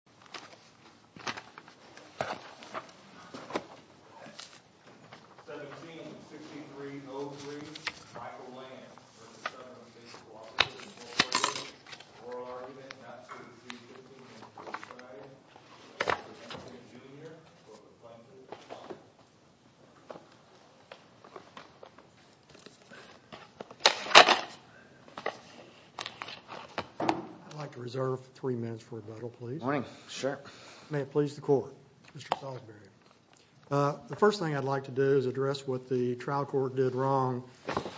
for provision of oral argument not suitable to be seen in the Court of Human Rights. I am Mr. Samuel M. Bro wrapping my cards as I respond. Attorney General and Mr. Lane, I would like to reserve three minutes for rebuttal please. May it please the Court. The first thing I would like to do is address what the trial court did wrong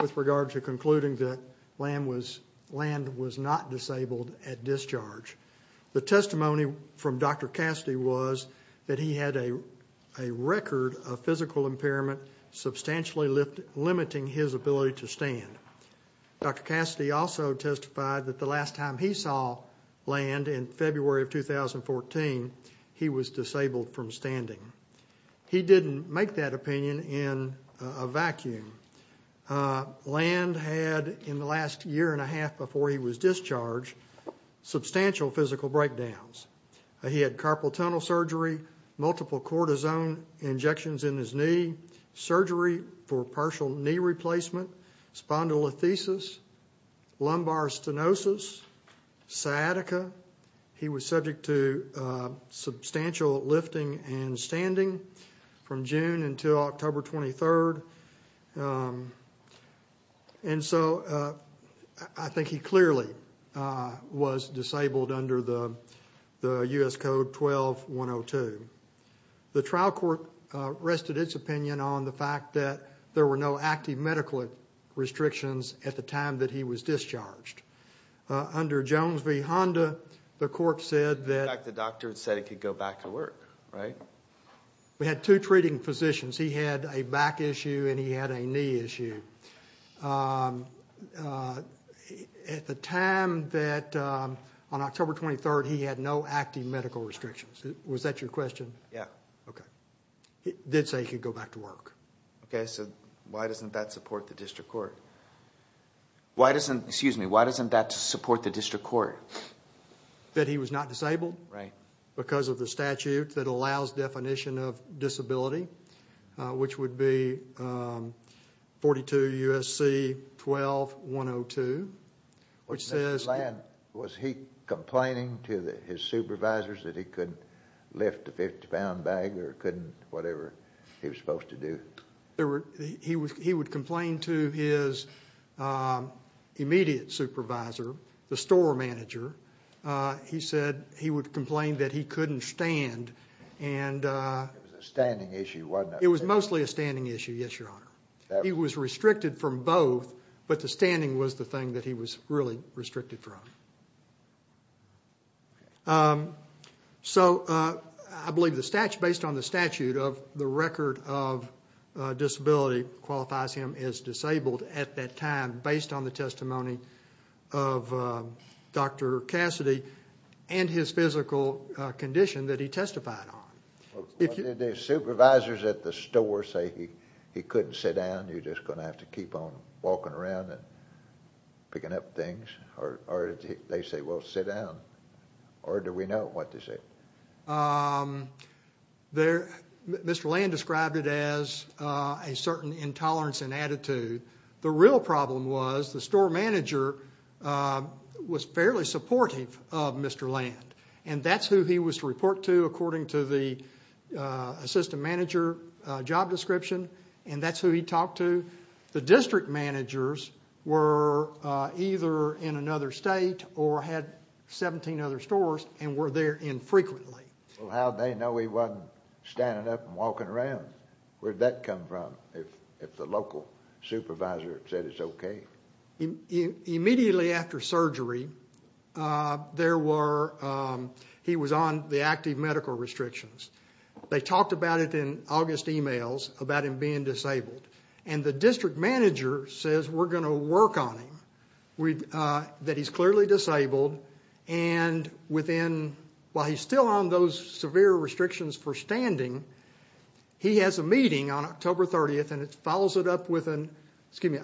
with regard to concluding that land was not disabled at discharge. The testimony from Dr. Cassidy was that he had a record of physical impairment substantially limiting his ability to stand. Dr. Cassidy also testified that the last time he saw land in February of 2014 he was disabled from standing. He didn't make that opinion in a vacuum. Land had in the last year and a half before he was discharged substantial physical breakdowns. He had carpal tunnel surgery, multiple cortisone injections in his knee, surgery for partial knee replacement, spondylolisthesis, lumbar stenosis, sciatica. He was subject to substantial lifting and standing from June until October 23rd. And so I think he clearly was disabled under the U.S. Code 12-102. The trial court rested its opinion on the fact that there were no active medical restrictions at the time that he was discharged. Under Jones v. Honda, the court said that... In fact, the doctor said he could go back to work, right? We had two treating physicians. He had a back issue and he had a knee issue. At the time that, on October 23rd, he had no active medical restrictions. Was that your question? Yeah. Okay. It did say he could go back to work. Okay. So why doesn't that support the district court? Why doesn't... Excuse me. Why doesn't that support the district court? That he was not disabled? Right. Because of the statute that allows definition of disability, which would be 42 U.S.C. 12-102, which says... Did he complain to his supervisors that he couldn't lift a 50-pound bag or couldn't whatever he was supposed to do? He would complain to his immediate supervisor, the store manager. He said he would complain that he couldn't stand and... It was a standing issue, wasn't it? It was mostly a standing issue, yes, Your Honor. He was restricted from both, but the standing was the thing that he was really restricted from. Okay. So, I believe based on the statute of the record of disability qualifies him as disabled at that time based on the testimony of Dr. Cassidy and his physical condition that he testified on. Why did the supervisors at the store say he couldn't sit down, you're just going to have to keep on walking around and picking up things, or did they say, well, sit down, or do we know what to say? Mr. Land described it as a certain intolerance and attitude. The real problem was the store manager was fairly supportive of Mr. Land, and that's who he was to report to according to the assistant manager job description, and that's who he talked to. The district managers were either in another state or had 17 other stores and were there infrequently. Well, how'd they know he wasn't standing up and walking around? Where'd that come from if the local supervisor said it's okay? Immediately after surgery, there were... He was on the active medical restrictions. They talked about it in August emails about him being disabled, and the district manager says, we're going to work on him, that he's clearly disabled, and while he's still on those severe restrictions for standing, he has a meeting on August 30th, and it follows it up with an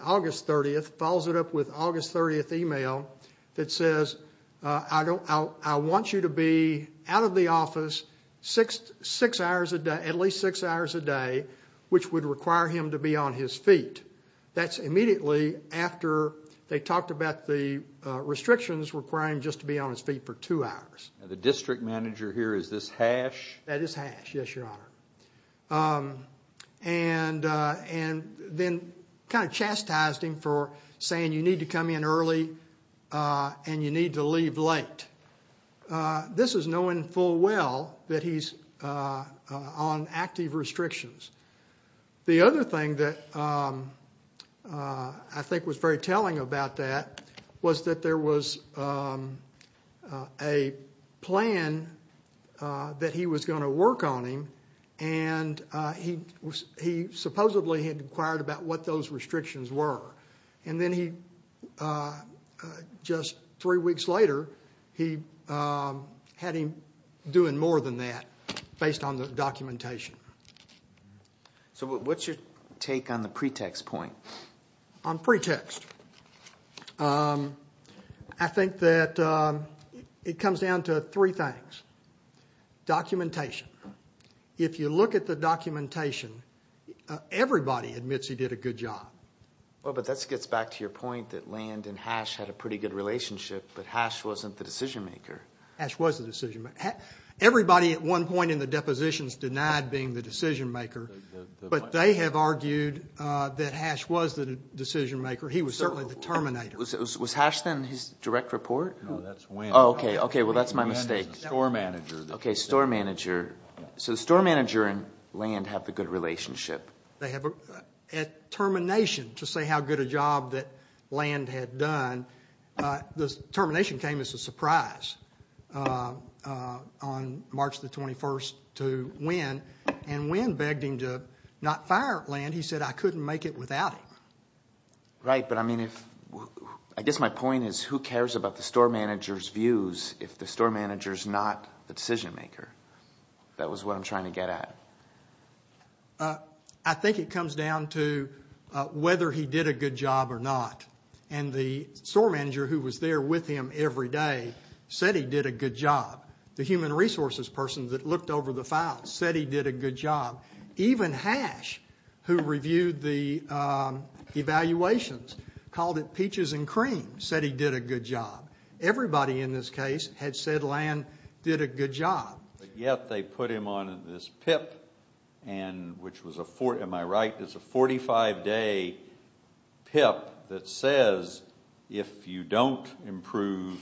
August 30th email that says, I want you to be out of the office six to six hours a day, at least six hours a day, which would require him to be on his feet. That's immediately after they talked about the restrictions requiring him just to be on his feet for two hours. The district manager here, is this Hash? That is Hash, yes, your honor, and then kind of chastised him for saying, you need to come in early and you need to leave late. This is knowing full well that he's on active restrictions. The other thing that I think was very telling about that was that there was a plan that he was going to work on him, and he supposedly had inquired about what those restrictions were. Then he, just three weeks later, he had him doing more than that based on the documentation. What's your take on the pretext point? On pretext, I think that it comes down to three things, documentation. If you look at the documentation, everybody admits he did a good job. That gets back to your point that Land and Hash had a pretty good relationship, but Hash wasn't the decision maker. Hash was the decision maker. Everybody at one point in the depositions denied being the decision maker, but they have argued that Hash was the decision maker. He was certainly the terminator. Was Hash then his direct report? No, that's Wynn. Oh, okay. Well, that's my mistake. Wynn is the store manager. Okay, store manager. So the store manager and Land have the good relationship. At termination, to say how good a job that Land had done, the termination came as a surprise on March the 21st to Wynn, and Wynn begged him to not fire Land. He said, I couldn't make it without him. Right, but I guess my point is who cares about the store manager's views if the store manager's not the decision maker? That was what I'm trying to get at. I think it comes down to whether he did a good job or not, and the store manager who was there with him every day said he did a good job. The human resources person that looked over the files said he did a good job. Even Hash, who reviewed the evaluations, called it peaches and cream, said he did a good job. Everybody in this case had said Land did a good job. But yet, they put him on this PIP, which was a 45-day PIP that says if you don't improve,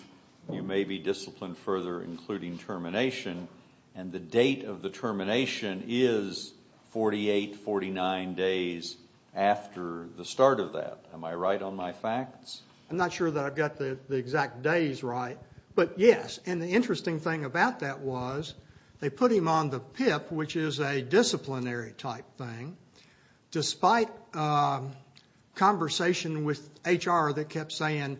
you may be disciplined further, including termination, and the date of the termination is 48, 49 days after the start of that. Am I right on my facts? I'm not sure that I've got the exact days right, but yes, and the interesting thing about that was they put him on the PIP, which is a disciplinary-type thing, despite conversation with HR that kept saying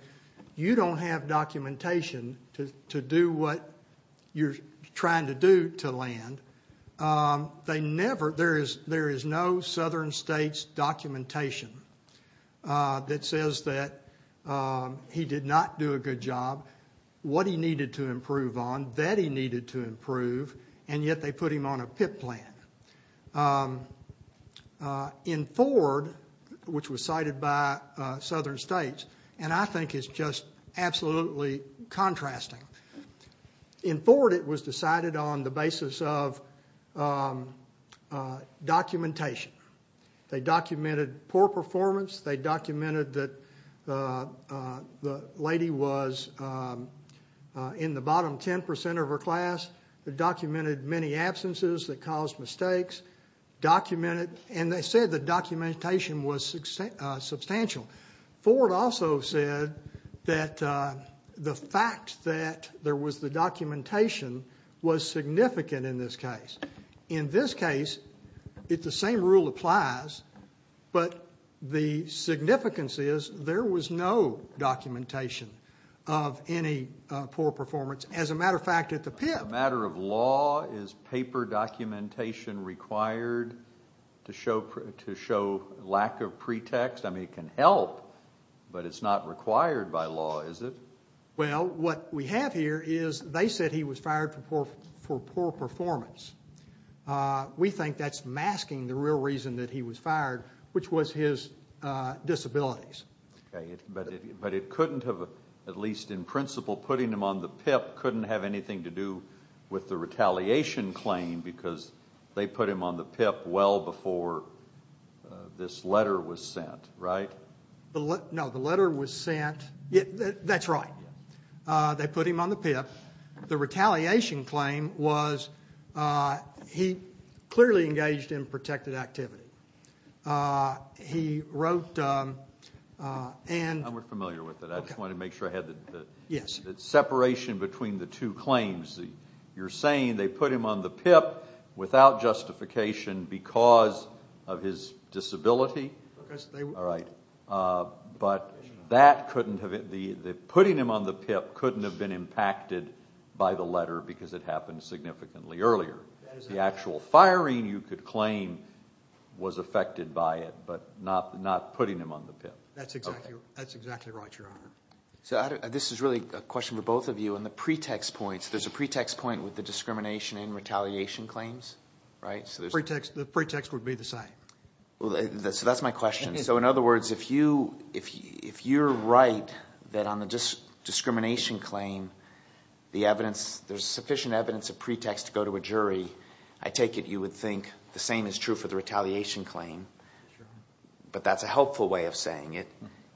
you don't have documentation to do what you're trying to do to Land. There is no Southern States documentation that says that he did not do a good job, what he needed to improve on, that he needed to improve, and yet they put him on a PIP plan. In Ford, which was cited by Southern States, and I think it's just absolutely contrasting, in Ford, it was decided on the basis of documentation. They documented poor performance. They documented that the lady was in the bottom 10% of her class. They documented many absences that caused mistakes, and they said the documentation was substantial. Ford also said that the fact that there was the documentation was significant in this case. In this case, the same rule applies, but the significance is there was no documentation of any poor performance. As a matter of fact, at the PIP. As a matter of law, is paper documentation required to show lack of pretext? I mean, it can help, but it's not required by law, is it? Well, what we have here is they said he was fired for poor performance. We think that's masking the real reason that he was fired, which was his disabilities. But it couldn't have, at least in principle, putting him on the PIP couldn't have anything to do with the retaliation claim, because they put him on the PIP well before this letter was sent, right? No, the letter was sent. That's right. They put him on the PIP. The retaliation claim was he clearly engaged in protected activity. He wrote and... I'm not familiar with it. I just wanted to make sure I had the separation between the two claims. You're saying they put him on the PIP without justification because of his disability? All right. But that couldn't have... Putting him on the PIP couldn't have been impacted by the letter because it happened significantly earlier. The actual firing, you could claim, was affected by it, but not putting him on the PIP. That's exactly right, Your Honor. This is really a question for both of you. On the pretext points, there's a pretext point with the discrimination and retaliation claims, right? The pretext would be the same. That's my question. In other words, if you're right that on the discrimination claim, there's sufficient evidence of pretext to go to a jury, I take it you would think the same is true for the retaliation claim, but that's a helpful way of saying it.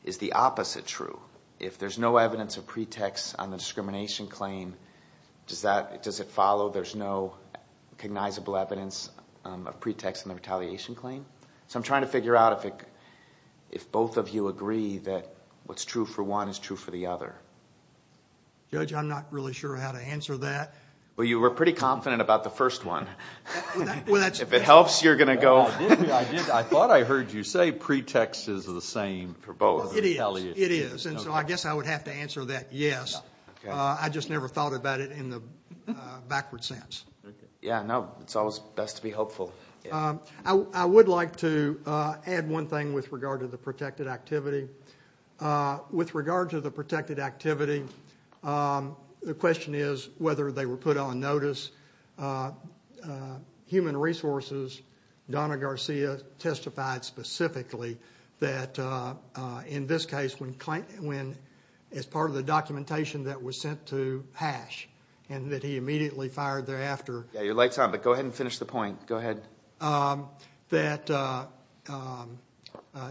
Is the opposite true? If there's no evidence of pretext on the discrimination claim, does it follow there's no recognizable evidence of pretext in the retaliation claim? I'm trying to figure out if both of you agree that what's true for one is true for the other. Judge, I'm not really sure how to answer that. You were pretty confident about the first one. If it helps, you're going to go... I thought I heard you say pretext is the same for both. It is. I guess I would have to answer that yes. I just never thought about it in the backward sense. Yeah, no. It's always best to be hopeful. I would like to add one thing with regard to the protected activity. With regard to the protected activity, the question is whether they were put on notice. Human Resources, Donna Garcia, testified specifically that, in this case, as part of the documentation that was sent to Hash, and that he immediately fired thereafter... Yeah, your light's on, but go ahead and finish the point. Go ahead. ...that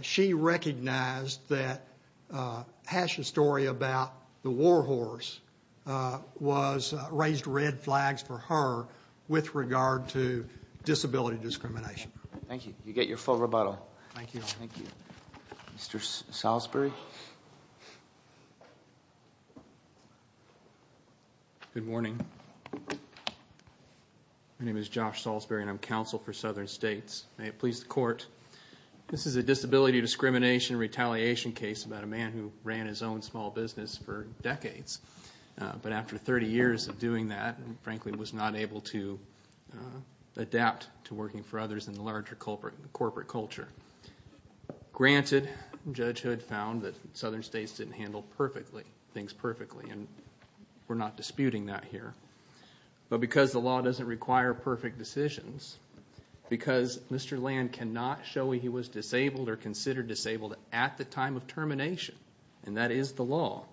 she recognized that Hash's story about the war horse raised red flags for her with regard to disability discrimination. Thank you. You get your full rebuttal. Thank you. Thank you. Mr. Salisbury? Good morning. My name is Josh Salisbury, and I'm counsel for Southern States. May it please the court, this is a disability discrimination retaliation case about a man who ran his own small business for decades, but after 30 years of doing that, and frankly was not able to adapt to working for others in the larger corporate culture. Granted, Judge Hood found that Southern States didn't handle things perfectly, and we're not disputing that here, but because the law doesn't require perfect decisions, because Mr. Land cannot show he was disabled or considered disabled at the time of termination, and that is the law,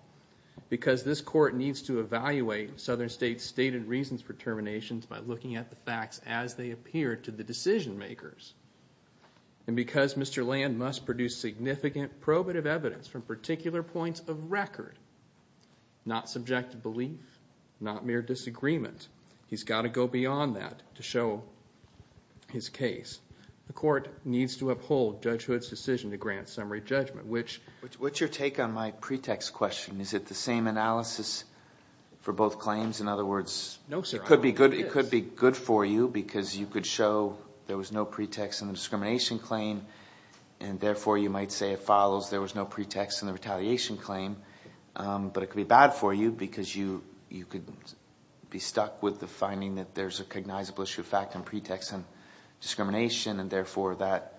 because this court needs to evaluate Southern States' stated reasons for terminations by looking at the facts as they appear to the decision makers, and because Mr. Land must produce significant probative evidence from particular points of record, not subjective belief, not mere disagreement. He's got to go beyond that to show his case. The court needs to uphold Judge Hood's decision to grant summary judgment, which... What's your take on my pretext question? Is it the same analysis for both claims? No, sir. I don't think it is. It could be good for you, because you could show there was no pretext in the discrimination claim, and therefore you might say it follows there was no pretext in the retaliation claim, but it could be bad for you, because you could be stuck with the finding that there's a cognizable issue of fact and pretext in discrimination, and therefore that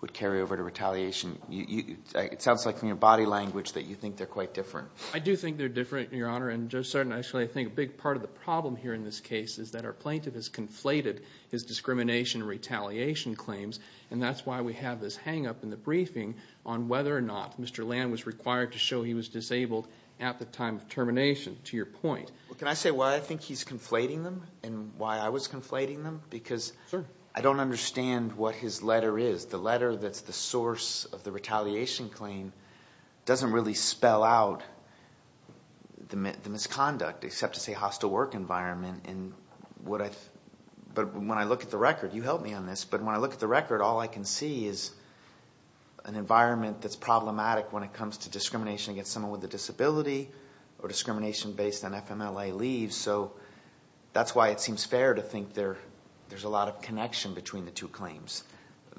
would carry over to retaliation. It sounds like from your body language that you think they're quite different. I do think they're different, Your Honor, and Judge Sartin, actually I think a big part of the problem here in this case is that our plaintiff has conflated his discrimination and retaliation claims, and that's why we have this hangup in the briefing on whether or not Mr. Land was required to show he was disabled at the time of termination, to your point. Well, can I say why I think he's conflating them, and why I was conflating them? Because I don't understand what his letter is. The letter that's the source of the retaliation claim doesn't really spell out the misconduct, except to say hostile work environment, and what I... But when I look at the record, you help me on this, but when I look at the record, all I can see is an environment that's problematic when it comes to discrimination against someone with a disability, or discrimination based on FMLA leaves, so that's why it seems fair to think there's a lot of connection between the two claims,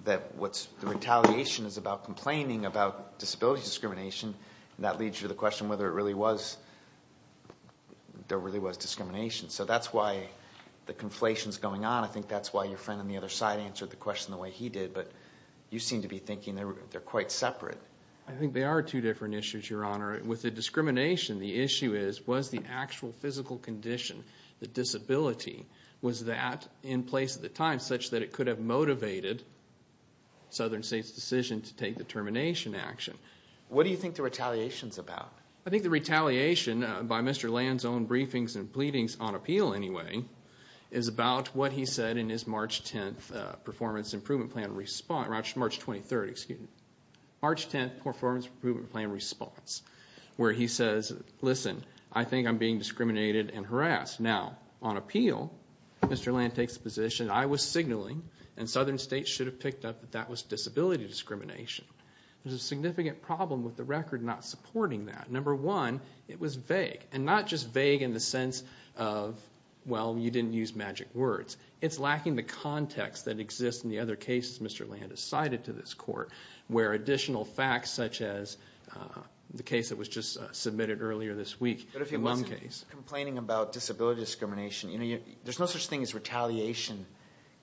that what's... The retaliation is about complaining about disability discrimination, and that leads you to the question whether it really was... There really was discrimination, so that's why the conflation's going on. I think that's why your friend on the other side answered the question the way he did, but you seem to be thinking they're quite separate. I think they are two different issues, Your Honor. With the discrimination, the issue is, was the actual physical condition, the disability, was that in place at the time, such that it could have motivated Southern State's decision to take the termination action? What do you think the retaliation's about? I think the retaliation, by Mr. Land's own briefings and pleadings on appeal anyway, is about what he said in his March 10th performance improvement plan response, March 23rd, excuse me. March 10th performance improvement plan response, where he says, listen, I think I'm being discriminated and harassed. Now, on appeal, Mr. Land takes the position, I was signaling, and Southern State should have picked up that that was disability discrimination. There's a significant problem with the record not supporting that. Number one, it was vague, and not just vague in the sense of, well, you didn't use magic words. It's lacking the context that exists in the other cases Mr. Land has cited to this court, where additional facts such as the case that was just submitted earlier this week, the Lum case. But if he wasn't complaining about disability discrimination, there's no such thing as retaliation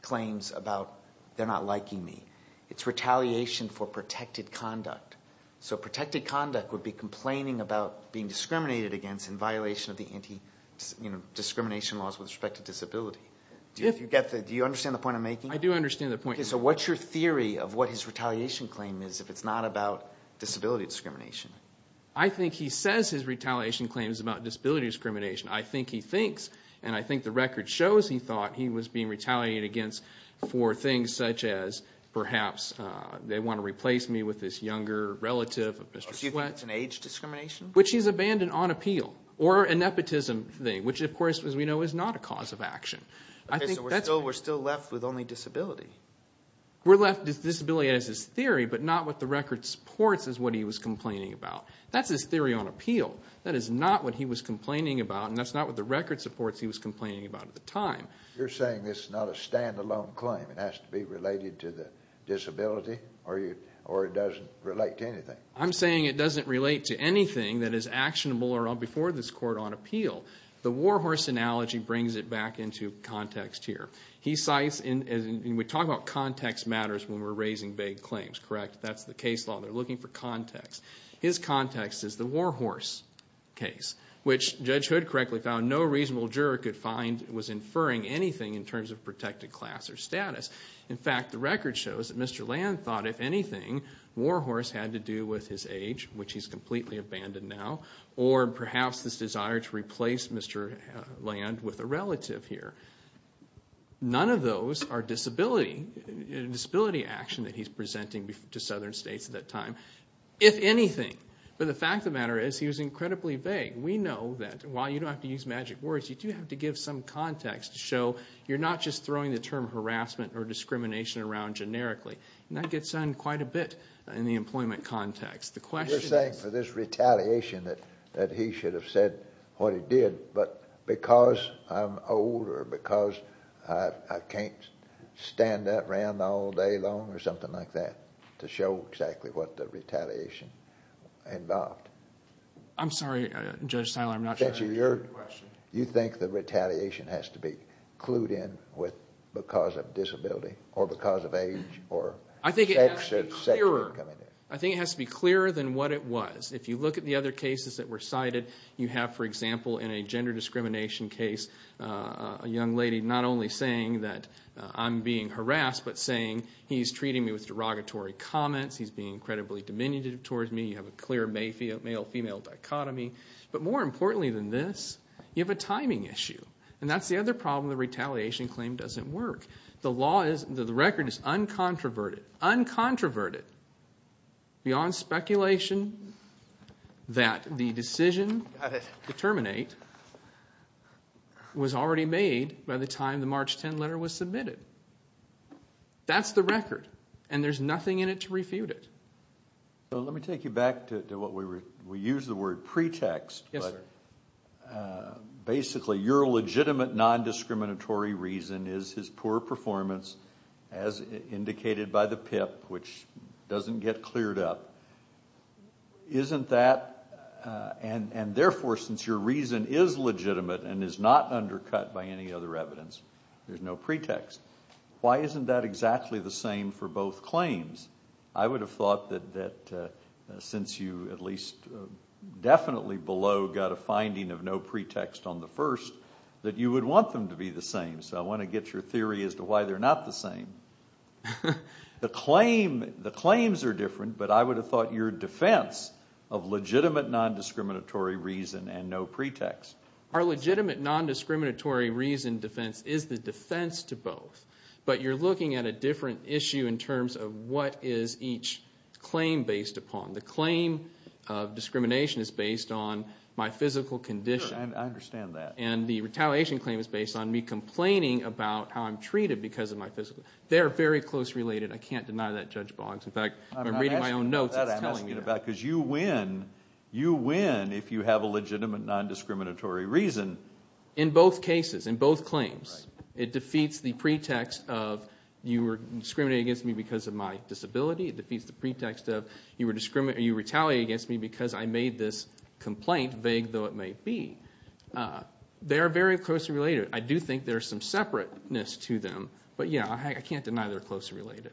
claims about, they're not liking me. It's retaliation for protected conduct. So protected conduct would be complaining about being discriminated against in violation of the anti-discrimination laws with respect to disability. Do you understand the point I'm making? I do understand the point. Okay, so what's your theory of what his retaliation claim is if it's not about disability discrimination? I think he says his retaliation claim is about disability discrimination. I think he thinks, and I think the record shows he thought he was being retaliated against for things such as perhaps they want to replace me with this younger relative of Mr. Sweatt. So you think it's an age discrimination? Which he's abandoned on appeal. Or a nepotism thing, which of course, as we know, is not a cause of action. Okay, so we're still left with only disability. We're left with disability as his theory, but not what the record supports as what he was complaining about. That's his theory on appeal. That is not what he was complaining about, and that's not what the record supports he was complaining about at the time. You're saying this is not a stand-alone claim. It has to be related to the disability, or it doesn't relate to anything? I'm saying it doesn't relate to anything that is actionable or before this court on appeal. The warhorse analogy brings it back into context here. He cites, and we talk about context matters when we're raising vague claims, correct? That's the case law. They're looking for context. His context is the warhorse case, which Judge Hood correctly found no reasonable juror could inferring anything in terms of protected class or status. In fact, the record shows that Mr. Land thought, if anything, warhorse had to do with his age, which he's completely abandoned now, or perhaps this desire to replace Mr. Land with a relative here. None of those are disability action that he's presenting to southern states at that time, if anything. But the fact of the matter is, he was incredibly vague. We know that, while you don't have to use magic words, you do have to give some context to show you're not just throwing the term harassment or discrimination around generically. And that gets done quite a bit in the employment context. The question is- You're saying for this retaliation that he should have said what he did, but because I'm older, or because I can't stand that around all day long, or something like that, to show exactly what the retaliation involved. I'm sorry, Judge Tyler, I'm not sure I understand your question. You think the retaliation has to be clued in with because of disability, or because of age, or sex or gender coming in? I think it has to be clearer than what it was. If you look at the other cases that were cited, you have, for example, in a gender discrimination case, a young lady not only saying that I'm being harassed, but saying he's treating me with derogatory comments, he's being incredibly diminutive towards me, you have a clear may be a male-female dichotomy. But more importantly than this, you have a timing issue. And that's the other problem the retaliation claim doesn't work. The law is, the record is uncontroverted, uncontroverted, beyond speculation that the decision to terminate was already made by the time the March 10 letter was submitted. That's the record, and there's nothing in it to refute it. So let me take you back to what we were, we use the word pretext, but basically your legitimate non-discriminatory reason is his poor performance, as indicated by the PIP, which doesn't get cleared up, isn't that, and therefore since your reason is legitimate and is not undercut by any other evidence, there's no pretext. Why isn't that exactly the same for both claims? I would have thought that since you at least definitely below got a finding of no pretext on the first, that you would want them to be the same. So I want to get your theory as to why they're not the same. The claim, the claims are different, but I would have thought your defense of legitimate non-discriminatory reason and no pretext. Our legitimate non-discriminatory reason defense is the defense to both. But you're looking at a different issue in terms of what is each claim based upon. The claim of discrimination is based on my physical condition. Sure, I understand that. And the retaliation claim is based on me complaining about how I'm treated because of my physical, they're very close related, I can't deny that Judge Boggs, in fact, I'm reading my own notes and it's telling me that. That I'm asking about, because you win, you win if you have a legitimate non-discriminatory reason. In both cases, in both claims. It defeats the pretext of you were discriminating against me because of my disability, it defeats the pretext of you were retaliating against me because I made this complaint, vague though it may be. They're very closely related, I do think there's some separateness to them, but yeah, I can't deny they're closely related.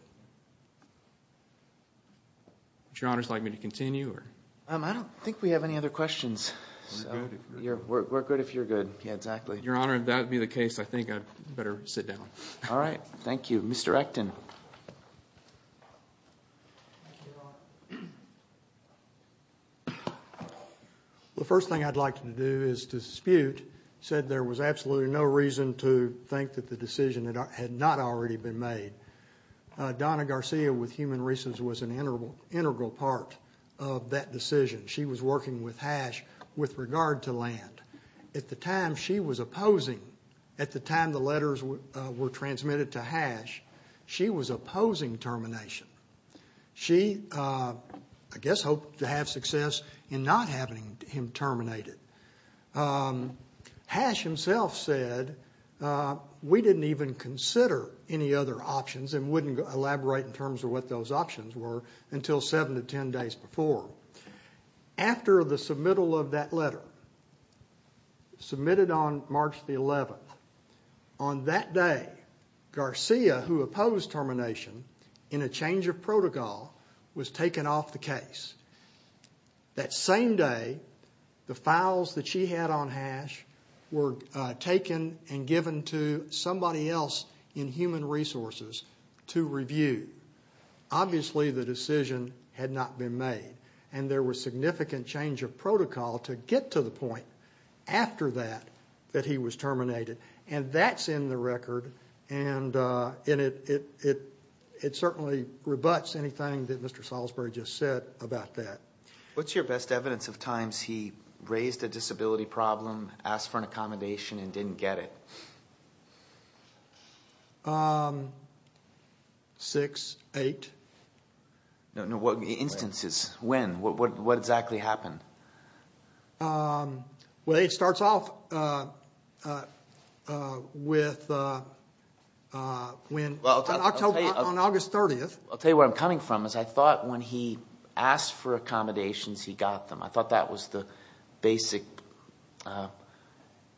Would your honors like me to continue? I don't think we have any other questions. We're good if you're good. Yeah, exactly. Your honor, if that would be the case, I think I'd better sit down. Alright, thank you. Mr. Acton. Thank you, your honor. The first thing I'd like to do is to dispute, said there was absolutely no reason to think that the decision had not already been made. Donna Garcia, with Human Reasons, was an integral part of that decision. She was working with HASH with regard to land. At the time, she was opposing, at the time the letters were transmitted to HASH, she was opposing termination. She, I guess, hoped to have success in not having him terminated. HASH himself said, we didn't even consider any other options and wouldn't elaborate in terms of what those options were until seven to ten days before. After the submittal of that letter, submitted on March the 11th, on that day, Garcia, who opposed termination in a change of protocol, was taken off the case. That same day, the files that she had on HASH were taken and given to somebody else in Human Resources to review. Obviously, the decision had not been made and there was significant change of protocol to get to the point, after that, that he was terminated. And that's in the record and it certainly rebuts anything that Mr. Salisbury just said about that. What's your best evidence of times he raised a disability problem, asked for an accommodation, and didn't get it? Six, eight. No, no, what instances, when, what exactly happened? Well, it starts off with when, on August 30th. I'll tell you where I'm coming from is I thought when he asked for accommodations, he got them. I thought that was the basic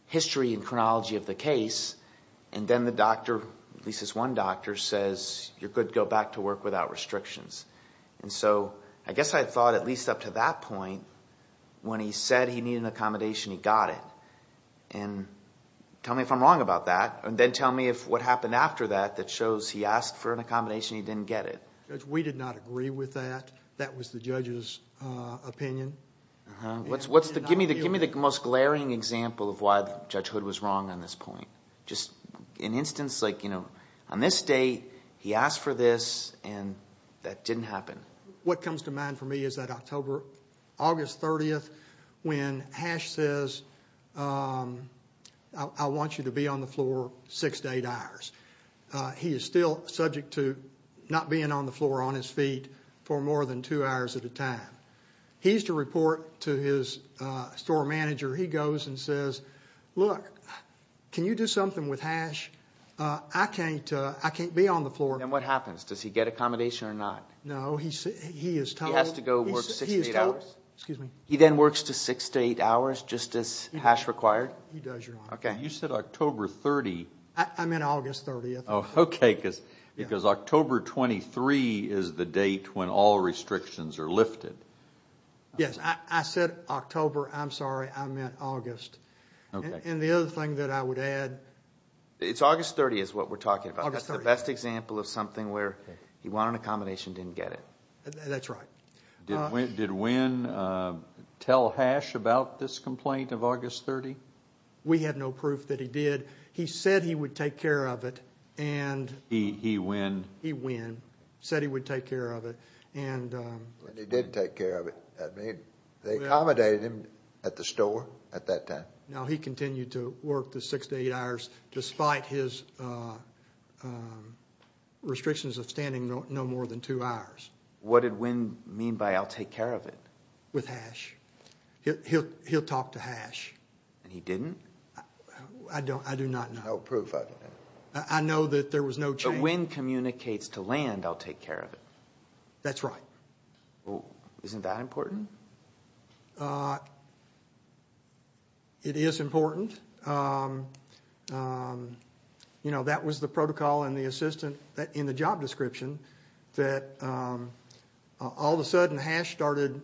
history and chronology of the case. And then the doctor, at least this one doctor, says, you're good to go back to work without restrictions. And so, I guess I thought at least up to that point, when he said he needed an accommodation, he got it. Tell me if I'm wrong about that and then tell me if what happened after that, that shows he asked for an accommodation, he didn't get it. We did not agree with that. That was the judge's opinion. Give me the most glaring example of why Judge Hood was wrong on this point. Just an instance like, on this date, he asked for this and that didn't happen. What comes to mind for me is that October, August 30th, when Hash says, I want you to be on the floor six to eight hours. He is still subject to not being on the floor on his feet for more than two hours at a time. He's to report to his store manager. He goes and says, look, can you do something with Hash? I can't be on the floor. And what happens? Does he get accommodation or not? No, he is told. He has to go work six to eight hours? He then works to six to eight hours just as Hash required? He does, Your Honor. Okay. You said October 30th. I meant August 30th. Okay. Because October 23 is the date when all restrictions are lifted. Yes. I said October. I'm sorry. I meant August. Okay. And the other thing that I would add. It's August 30th is what we're talking about. August 30th. That's the best example of something where he wanted accommodation, didn't get it. That's right. Did Wynn tell Hash about this complaint of August 30th? We have no proof that he did. He said he would take care of it and... He, Wynn... He, Wynn said he would take care of it and... And he did take care of it. I mean, they accommodated him at the store at that time. No, he continued to work the six to eight hours despite his restrictions of standing no more than two hours. What did Wynn mean by, I'll take care of it? With Hash. He'll talk to Hash. And he didn't? I do not know. No proof of it. I know that there was no chance... But Wynn communicates to Land, I'll take care of it. That's right. Well, isn't that important? It is important. You know, that was the protocol and the assistant in the job description that all of a sudden Hash started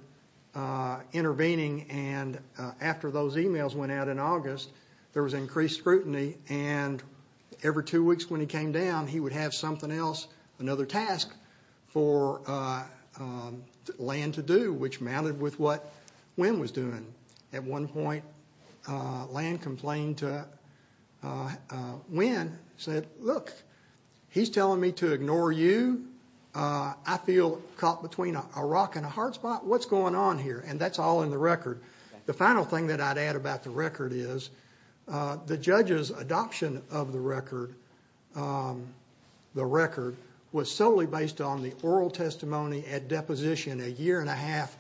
intervening and after those emails went out in August, there was increased scrutiny and every two weeks when he came down, he would have something else, another task for Land to do, which matted with what Wynn was doing. At one point, Land complained to Wynn, said, look, he's telling me to ignore you. I feel caught between a rock and a hard spot. What's going on here? And that's all in the record. The final thing that I'd add about the record is the judge's adoption of the record was solely based on the oral testimony at deposition a year and a half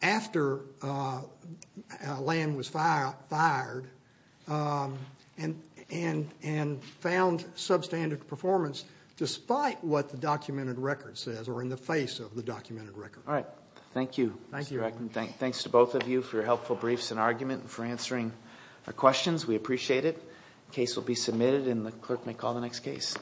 after Land was fired and found substandard performance despite what the documented record says or in the face of the documented record. All right. Thank you. Thank you. Thanks to both of you for your helpful briefs and argument and for answering our questions. We appreciate it. The case will be submitted and the clerk may call the next case.